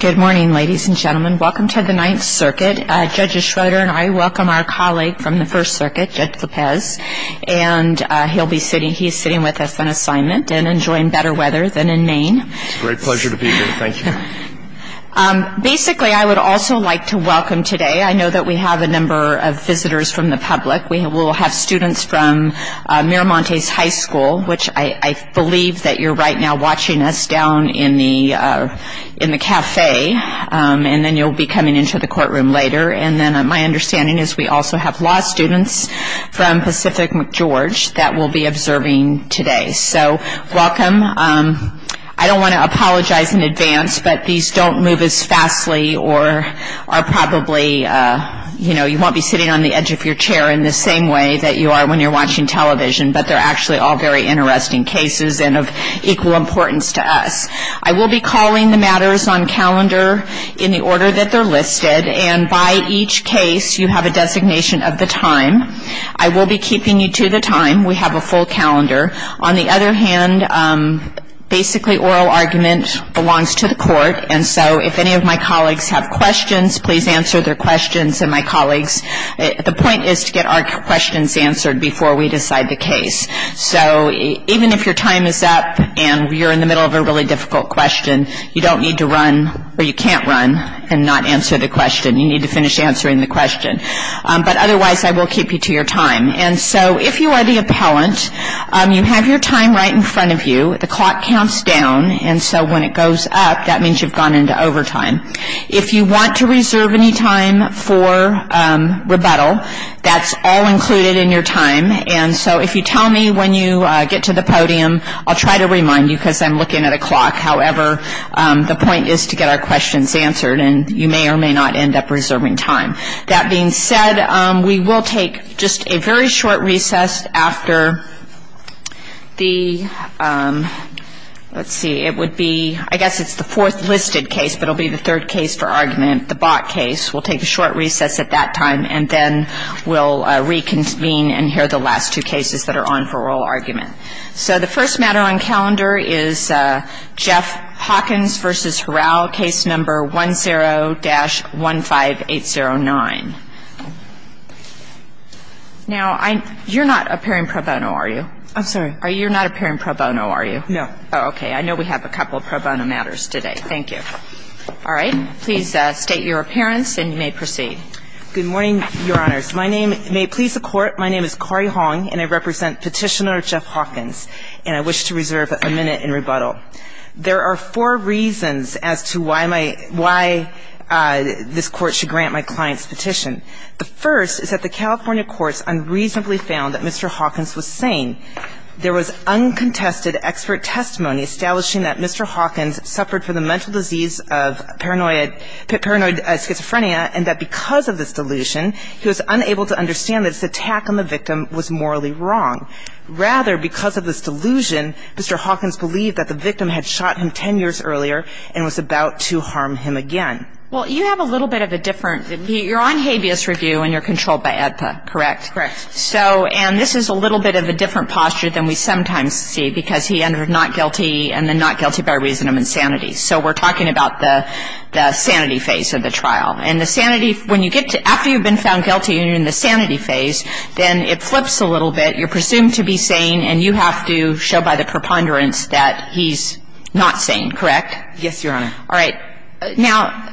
Good morning, ladies and gentlemen. Welcome to the 9th Circuit. Judge Schroeder and I welcome our colleague from the 1st Circuit, Judge Lopez, and he's sitting with us on assignment and enjoying better weather than in Maine. It's a great pleasure to be here. Thank you. Basically, I would also like to welcome today, I know that we have a number of visitors from the public. We will have students from Miramontes High School, which I believe that you're right now watching us down in the café, and then you'll be coming into the courtroom later. And then my understanding is we also have law students from Pacific McGeorge that we'll be observing today. So welcome. I don't want to apologize in advance, but these don't move as fastly or are probably, you know, you won't be sitting on the edge of your chair in the same way that you are when you're watching television, but they're actually all very interesting cases and of equal importance to us. I will be calling the matters on calendar in the order that they're listed, and by each case you have a designation of the time. I will be keeping you to the time. We have a full calendar. On the other hand, basically oral argument belongs to the court, and so if any of my colleagues have questions, please answer their questions. The point is to get our questions answered before we decide the case. So even if your time is up and you're in the middle of a really difficult question, you don't need to run or you can't run and not answer the question. You need to finish answering the question. But otherwise, I will keep you to your time. And so if you are the appellant, you have your time right in front of you. The clock counts down, and so when it goes up, that means you've gone into overtime. If you want to reserve any time for rebuttal, that's all included in your time. And so if you tell me when you get to the podium, I'll try to remind you because I'm looking at a clock. However, the point is to get our questions answered, and you may or may not end up reserving time. That being said, we will take just a very short recess after the, let's see, it would be, I guess it's the fourth listed case, but it will be the third case for argument, the Bott case. We'll take a short recess at that time, and then we'll reconvene and hear the last two cases that are on for oral argument. So the first matter on calendar is Jeff Hawkins v. Horrell, Case No. 10-15809. Now, you're not appearing pro bono, are you? I'm sorry? You're not appearing pro bono, are you? No. Oh, okay. I know we have a couple of pro bono matters today. Thank you. All right. Please state your appearance, and you may proceed. Good morning, Your Honors. My name may please the Court. My name is Cori Hong, and I represent Petitioner Jeff Hawkins, and I wish to reserve a minute in rebuttal. There are four reasons as to why my, why this Court should grant my client's petition. The first is that the California courts unreasonably found that Mr. Hawkins was sane. There was uncontested expert testimony establishing that Mr. Hawkins suffered from the mental disease of paranoid schizophrenia and that because of this delusion he was unable to understand that his attack on the victim was morally wrong. Rather, because of this delusion, Mr. Hawkins believed that the victim had shot him 10 years earlier and was about to harm him again. Well, you have a little bit of a different, you're on habeas review and you're controlled by AEDPA, correct? Correct. So, and this is a little bit of a different posture than we sometimes see, because he ended up not guilty and then not guilty by reason of insanity. So we're talking about the sanity phase of the trial. And the sanity, when you get to, after you've been found guilty and you're in the sanity phase, then it flips a little bit. You're presumed to be sane, and you have to show by the preponderance that he's not sane, correct? Yes, Your Honor. All right. Now,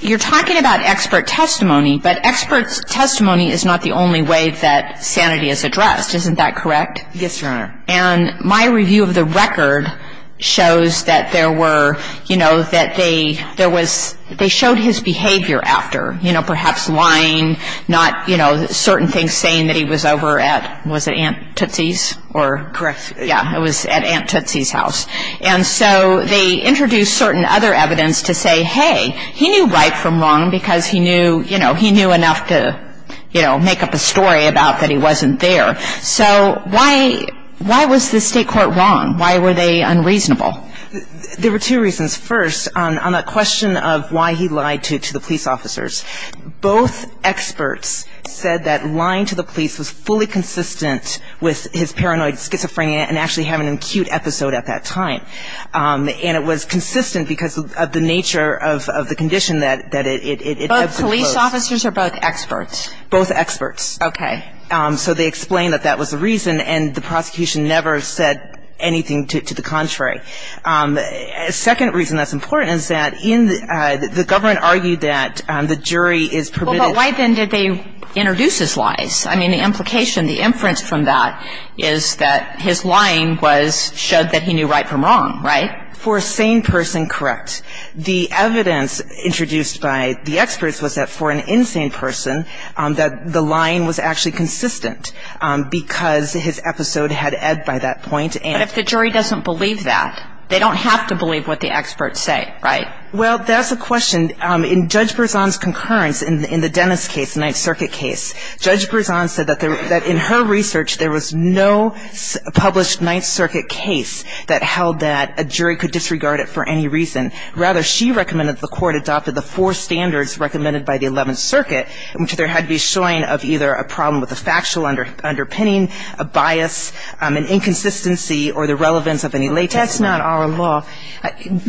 you're talking about expert testimony, but expert testimony is not the only way that sanity is addressed. Isn't that correct? Yes, Your Honor. And my review of the record shows that there were, you know, that they, there was, they showed his behavior after. You know, perhaps lying, not, you know, certain things saying that he was over at, was it Aunt Tootsie's? Correct. Yeah, it was at Aunt Tootsie's house. And so they introduced certain other evidence to say, hey, he knew right from wrong because he knew, you know, he knew enough to, you know, make up a story about that he wasn't there. So why, why was the state court wrong? Why were they unreasonable? There were two reasons. First, on the question of why he lied to the police officers. Both experts said that lying to the police was fully consistent with his paranoid schizophrenia and actually having an acute episode at that time. And it was consistent because of the nature of, of the condition that, that it, it, it exposed. Both police officers or both experts? Both experts. Okay. So they explained that that was the reason, and the prosecution never said anything to, to the contrary. Second reason that's important is that in the, the government argued that the jury is permitted. Well, but why then did they introduce his lies? I mean, the implication, the inference from that is that his lying was, showed that he knew right from wrong, right? For a sane person, correct. The evidence introduced by the experts was that for an insane person, that the lying was actually consistent because his episode had ebbed by that point and But if the jury doesn't believe that, they don't have to believe what the experts say, right? Well, that's the question. In Judge Berzon's concurrence in, in the Dennis case, the Ninth Circuit case, Judge Berzon said that there, that in her research there was no published Ninth Circuit case that held that a jury could disregard it for any reason. Rather, she recommended that the Court adopted the four standards recommended by the Eleventh Circuit, which there had to be a showing of either a problem with the factual underpinning, a bias, an inconsistency, or the relevance of any latex. That's not our law.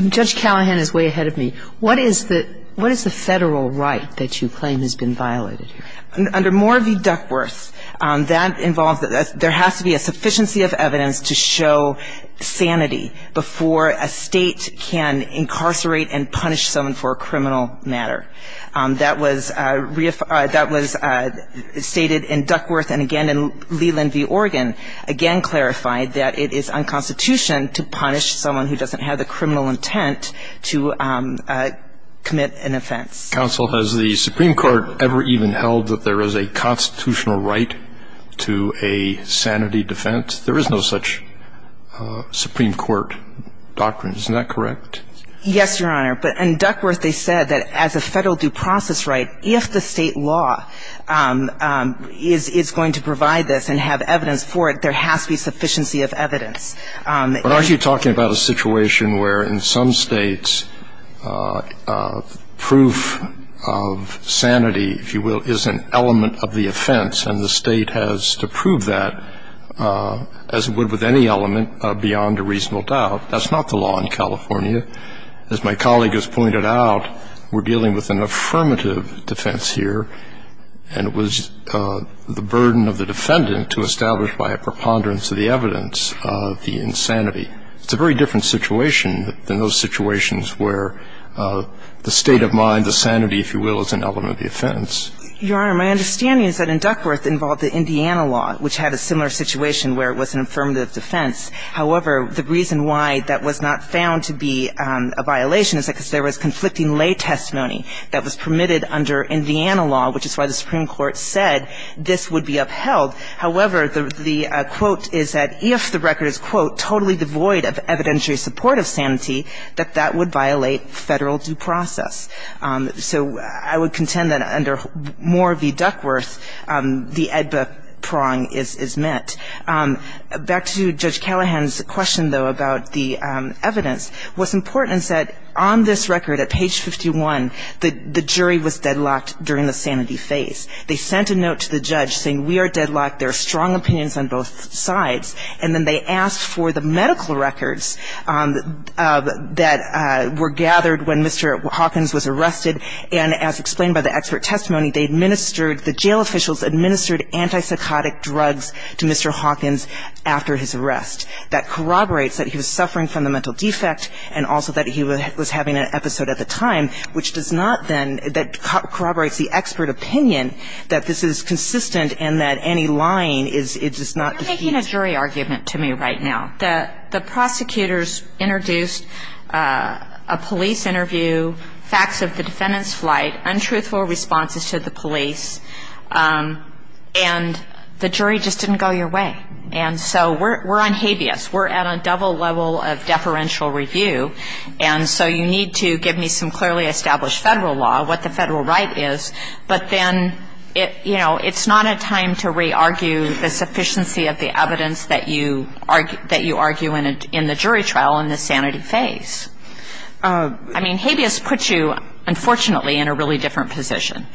Judge Callahan is way ahead of me. What is the, what is the Federal right that you claim has been violated here? Under More v. Duckworth, that involves, there has to be a sufficiency of evidence to show sanity before a State can incarcerate and punish someone for a criminal matter. That was reaffirmed, that was stated in Duckworth and again in Leland v. Oregon, again clarified that it is unconstitutional to punish someone who doesn't have the criminal intent to commit an offense. Counsel, has the Supreme Court ever even held that there is a constitutional right to a sanity defense? There is no such Supreme Court doctrine. Isn't that correct? Yes, Your Honor. But in Duckworth, they said that as a Federal due process right, if the State law is going to provide this and have evidence for it, there has to be sufficiency of evidence. But aren't you talking about a situation where in some States, proof of sanity, if you will, is an element of the offense and the State has to prove that as it would with any element beyond a reasonable doubt? That's not the law in California. As my colleague has pointed out, we're dealing with an affirmative defense here, and it was the burden of the defendant to establish by a preponderance of the evidence the insanity. It's a very different situation than those situations where the state of mind, the sanity, if you will, is an element of the offense. Your Honor, my understanding is that in Duckworth involved the Indiana law, which had a similar situation where it was an affirmative defense. However, the reason why that was not found to be a violation is because there was conflicting lay testimony that was permitted under Indiana law, which is why the Supreme Court said this would be upheld. However, the quote is that if the record is, quote, totally devoid of evidentiary support of sanity, that that would violate Federal due process. So I would contend that under Moore v. Duckworth, the ADBA prong is met. Back to Judge Callahan's question, though, about the evidence, what's important is that on this record at page 51, the jury was deadlocked during the sanity phase. They sent a note to the judge saying we are deadlocked, there are strong opinions on both sides. And then they asked for the medical records that were gathered when Mr. Hawkins was arrested. And as explained by the expert testimony, they administered, the jail officials administered antipsychotic drugs to Mr. Hawkins after his arrest. That corroborates that he was suffering from the mental defect and also that he was having an episode at the time, which does not then, that corroborates the expert opinion that this is consistent and that any lying is just not the case. You're making a jury argument to me right now. The prosecutors introduced a police interview, facts of the defendant's flight, untruthful responses to the police, and the jury just didn't go your way. And so we're on habeas. We're at a double level of deferential review. And so you need to give me some clearly established Federal law, what the Federal right is, but then, you know, it's not a time to re-argue the sufficiency of the evidence that you argue in the jury trial in the sanity phase. I mean, habeas puts you, unfortunately, in a really different position.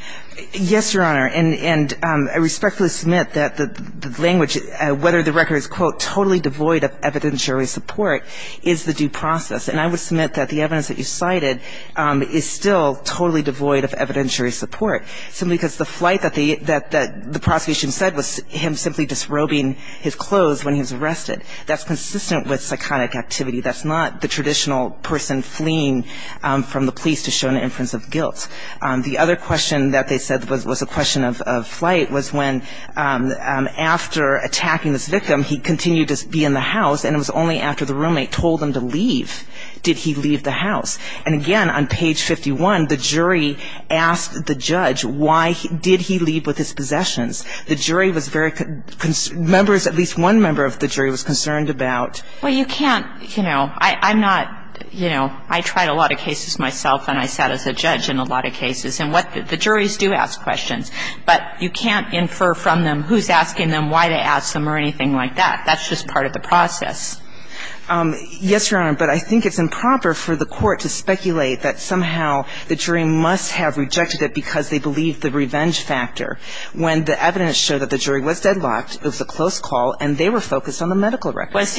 Yes, Your Honor. And I respectfully submit that the language, whether the record is, quote, totally devoid of evidence jury support, is the due process. And I would submit that the evidence that you cited is still totally devoid of evidentiary support simply because the flight that the prosecution said was him simply disrobing his clothes when he was arrested. That's consistent with psychotic activity. That's not the traditional person fleeing from the police to show an inference of guilt. The other question that they said was a question of flight was when after attacking this victim, he continued to be in the house, and it was only after the roommate told him to leave did he leave the house. And again, on page 51, the jury asked the judge why did he leave with his possessions. The jury was very concerned, members, at least one member of the jury was concerned about. Well, you can't, you know, I'm not, you know, I tried a lot of cases myself and I sat as a judge in a lot of cases. And what the juries do ask questions, but you can't infer from them who's asking them why they asked them or anything like that. That's just part of the process. Yes, Your Honor, but I think it's improper for the court to speculate that somehow the jury must have rejected it because they believe the revenge factor when the evidence showed that the jury was deadlocked, it was a close call, and they were focused on the medical record. Was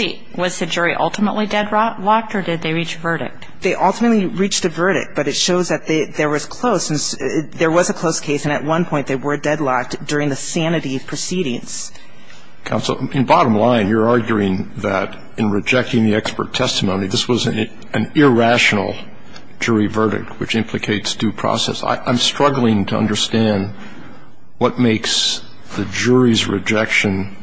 the jury ultimately deadlocked or did they reach a verdict? They ultimately reached a verdict, but it shows that there was close, there was a close case, and at one point they were deadlocked during the sanity proceedings. Counsel, in bottom line, you're arguing that in rejecting the expert testimony, this was an irrational jury verdict, which implicates due process. I'm struggling to understand what makes the jury's rejection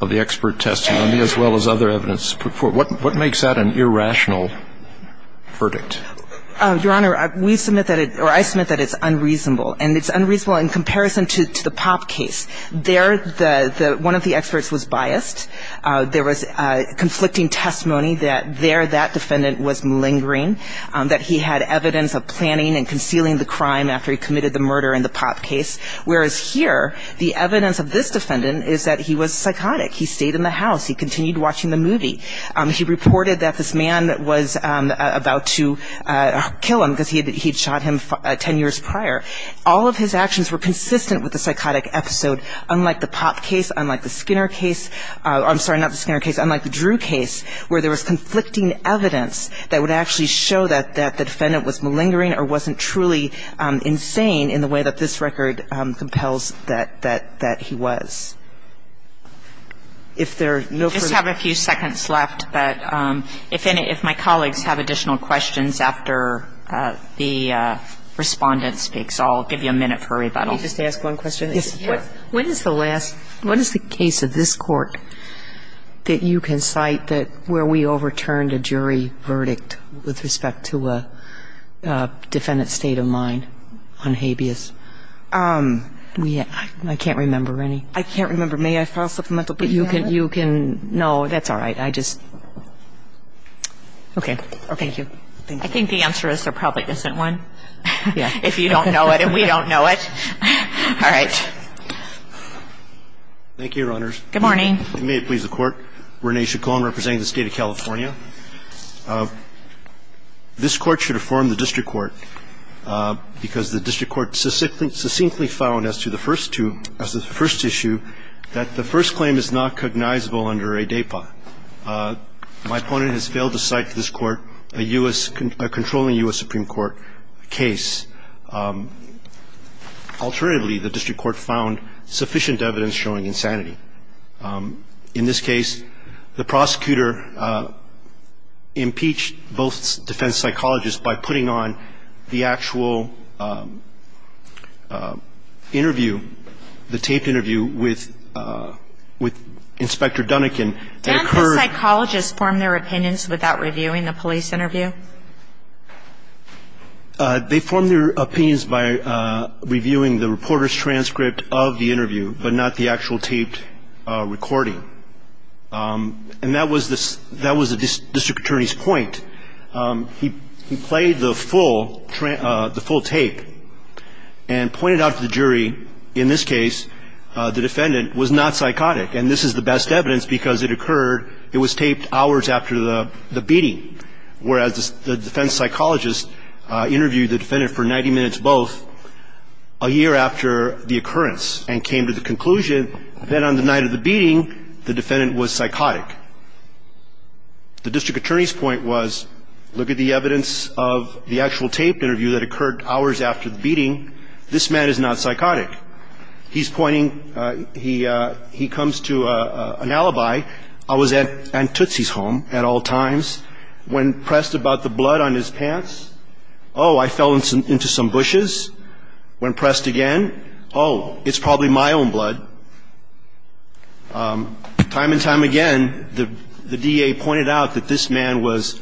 of the expert testimony as well as other evidence, what makes that an irrational verdict? Your Honor, we submit that it, or I submit that it's unreasonable, and it's unreasonable in comparison to the Pop case. There, one of the experts was biased. There was conflicting testimony that there that defendant was malingering, that he had evidence of planning and concealing the crime after he committed the murder in the Pop case, whereas here the evidence of this defendant is that he was psychotic. He stayed in the house. He continued watching the movie. He reported that this man was about to kill him because he had shot him ten years prior. All of his actions were consistent with the psychotic episode, unlike the Pop case, unlike the Skinner case, I'm sorry, not the Skinner case, unlike the Drew case, where there was conflicting evidence that would actually show that the defendant was malingering or wasn't truly insane in the way that this record compels that he was. If there are no further questions. I just have a few seconds left, but if my colleagues have additional questions after the Respondent speaks, I'll give you a minute for rebuttal. Can I just ask one question? Yes. When is the last, what is the case of this Court that you can cite that where we overturned a jury verdict with respect to a defendant's state of mind on habeas? I can't remember any. I can't remember. May I file a supplemental plea? You can. No, that's all right. I just. Okay. Thank you. I think the answer is there probably isn't one. Yeah. If you don't know it and we don't know it. All right. Thank you, Your Honors. Good morning. If you may, please, the Court. Rene Chacon representing the State of California. This Court should affirm the district court because the district court succinctly found as to the first two, as to the first issue, that the first claim is not cognizable under a DAPA. My opponent has failed to cite to this Court a U.S. controlling U.S. Supreme Court case. Alternatively, the district court found sufficient evidence showing insanity. In this case, the prosecutor impeached both defense psychologists by putting on the interview, but not the actual taped recording. And that was the district attorney's point. He played the full tape and pointed out to the jury, in this case, the defendant was not psychotic. And this is the best evidence because it occurred at the time of the interview. So this is the record. It was taped hours after the beating, whereas the defense psychologist interviewed the defendant for 90 minutes both, a year after the occurrence, and came to the conclusion that on the night of the beating, the defendant was psychotic. The district attorney's point was, look at the evidence of the actual taped interview that occurred hours after the beating. This man is not psychotic. He's pointing, he comes to an alibi. I was at Aunt Tootsie's home at all times. When pressed about the blood on his pants, oh, I fell into some bushes. When pressed again, oh, it's probably my own blood. Time and time again, the DA pointed out that this man was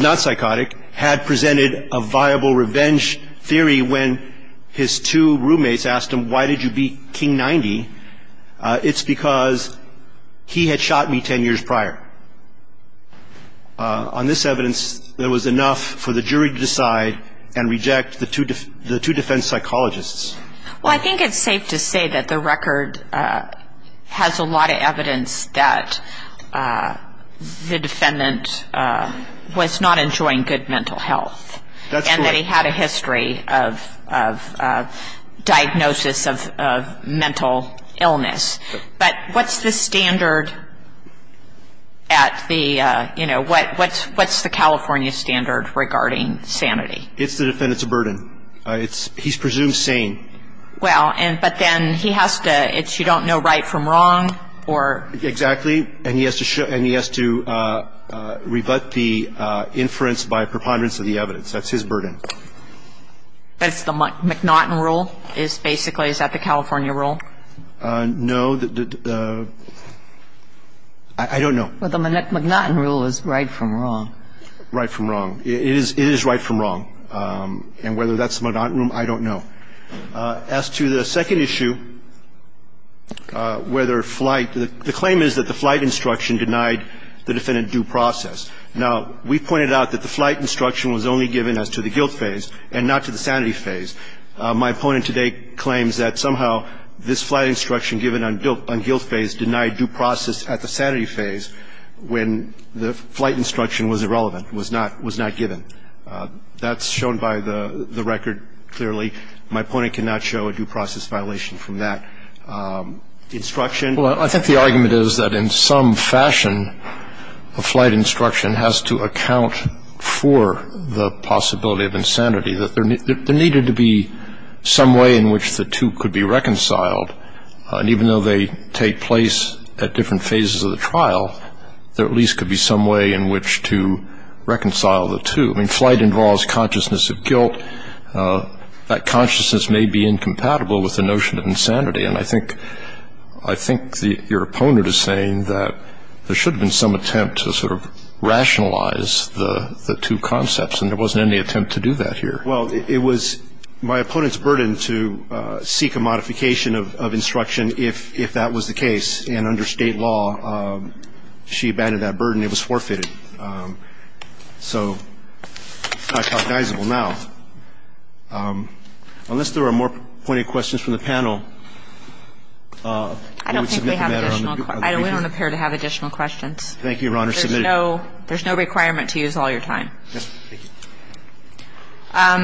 not psychotic, had presented a viable revenge theory when his two roommates asked him, why did you beat King 90? It's because he had shot me 10 years prior. On this evidence, there was enough for the jury to decide and reject the two defense psychologists. Well, I think it's safe to say that the record has a lot of evidence that the defendant was not enjoying good mental health. That's right. And that he had a history of diagnosis of mental illness. But what's the standard at the, you know, what's the California standard regarding sanity? It's the defendant's burden. He's presumed sane. Well, but then he has to, it's you don't know right from wrong, or? Exactly. And he has to rebut the inference by preponderance of the evidence. That's his burden. That's the McNaughton rule is basically, is that the California rule? No. I don't know. Well, the McNaughton rule is right from wrong. Right from wrong. It is right from wrong. And whether that's the McNaughton rule, I don't know. As to the second issue, whether flight, the claim is that the flight instruction denied the defendant due process. Now, we pointed out that the flight instruction was only given as to the guilt phase and not to the sanity phase. My opponent today claims that somehow this flight instruction given on guilt phase denied due process at the sanity phase when the flight instruction was irrelevant, was not given. That's shown by the record clearly. My opponent cannot show a due process violation from that instruction. Well, I think the argument is that in some fashion, a flight instruction has to account for the possibility of insanity, that there needed to be some way in which the two could be reconciled. And even though they take place at different phases of the trial, there at least could be some way in which to reconcile the two. I mean, flight involves consciousness of guilt. That consciousness may be incompatible with the notion of insanity. And I think your opponent is saying that there should have been some attempt to sort of rationalize the two concepts, and there wasn't any attempt to do that here. Well, it was my opponent's burden to seek a modification of instruction if that was the case. And under State law, she abandoned that burden. It was forfeited. So I apologizeable now. Unless there are more pointed questions from the panel. I don't think we have additional. We don't appear to have additional questions. Thank you, Your Honor. There's no requirement to use all your time. Yes. Thank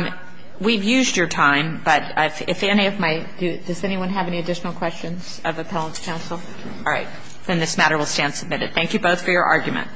you. We've used your time, but if any of my does anyone have any additional questions of the appellate counsel? All right. Then this matter will stand submitted. Thank you both for your argument.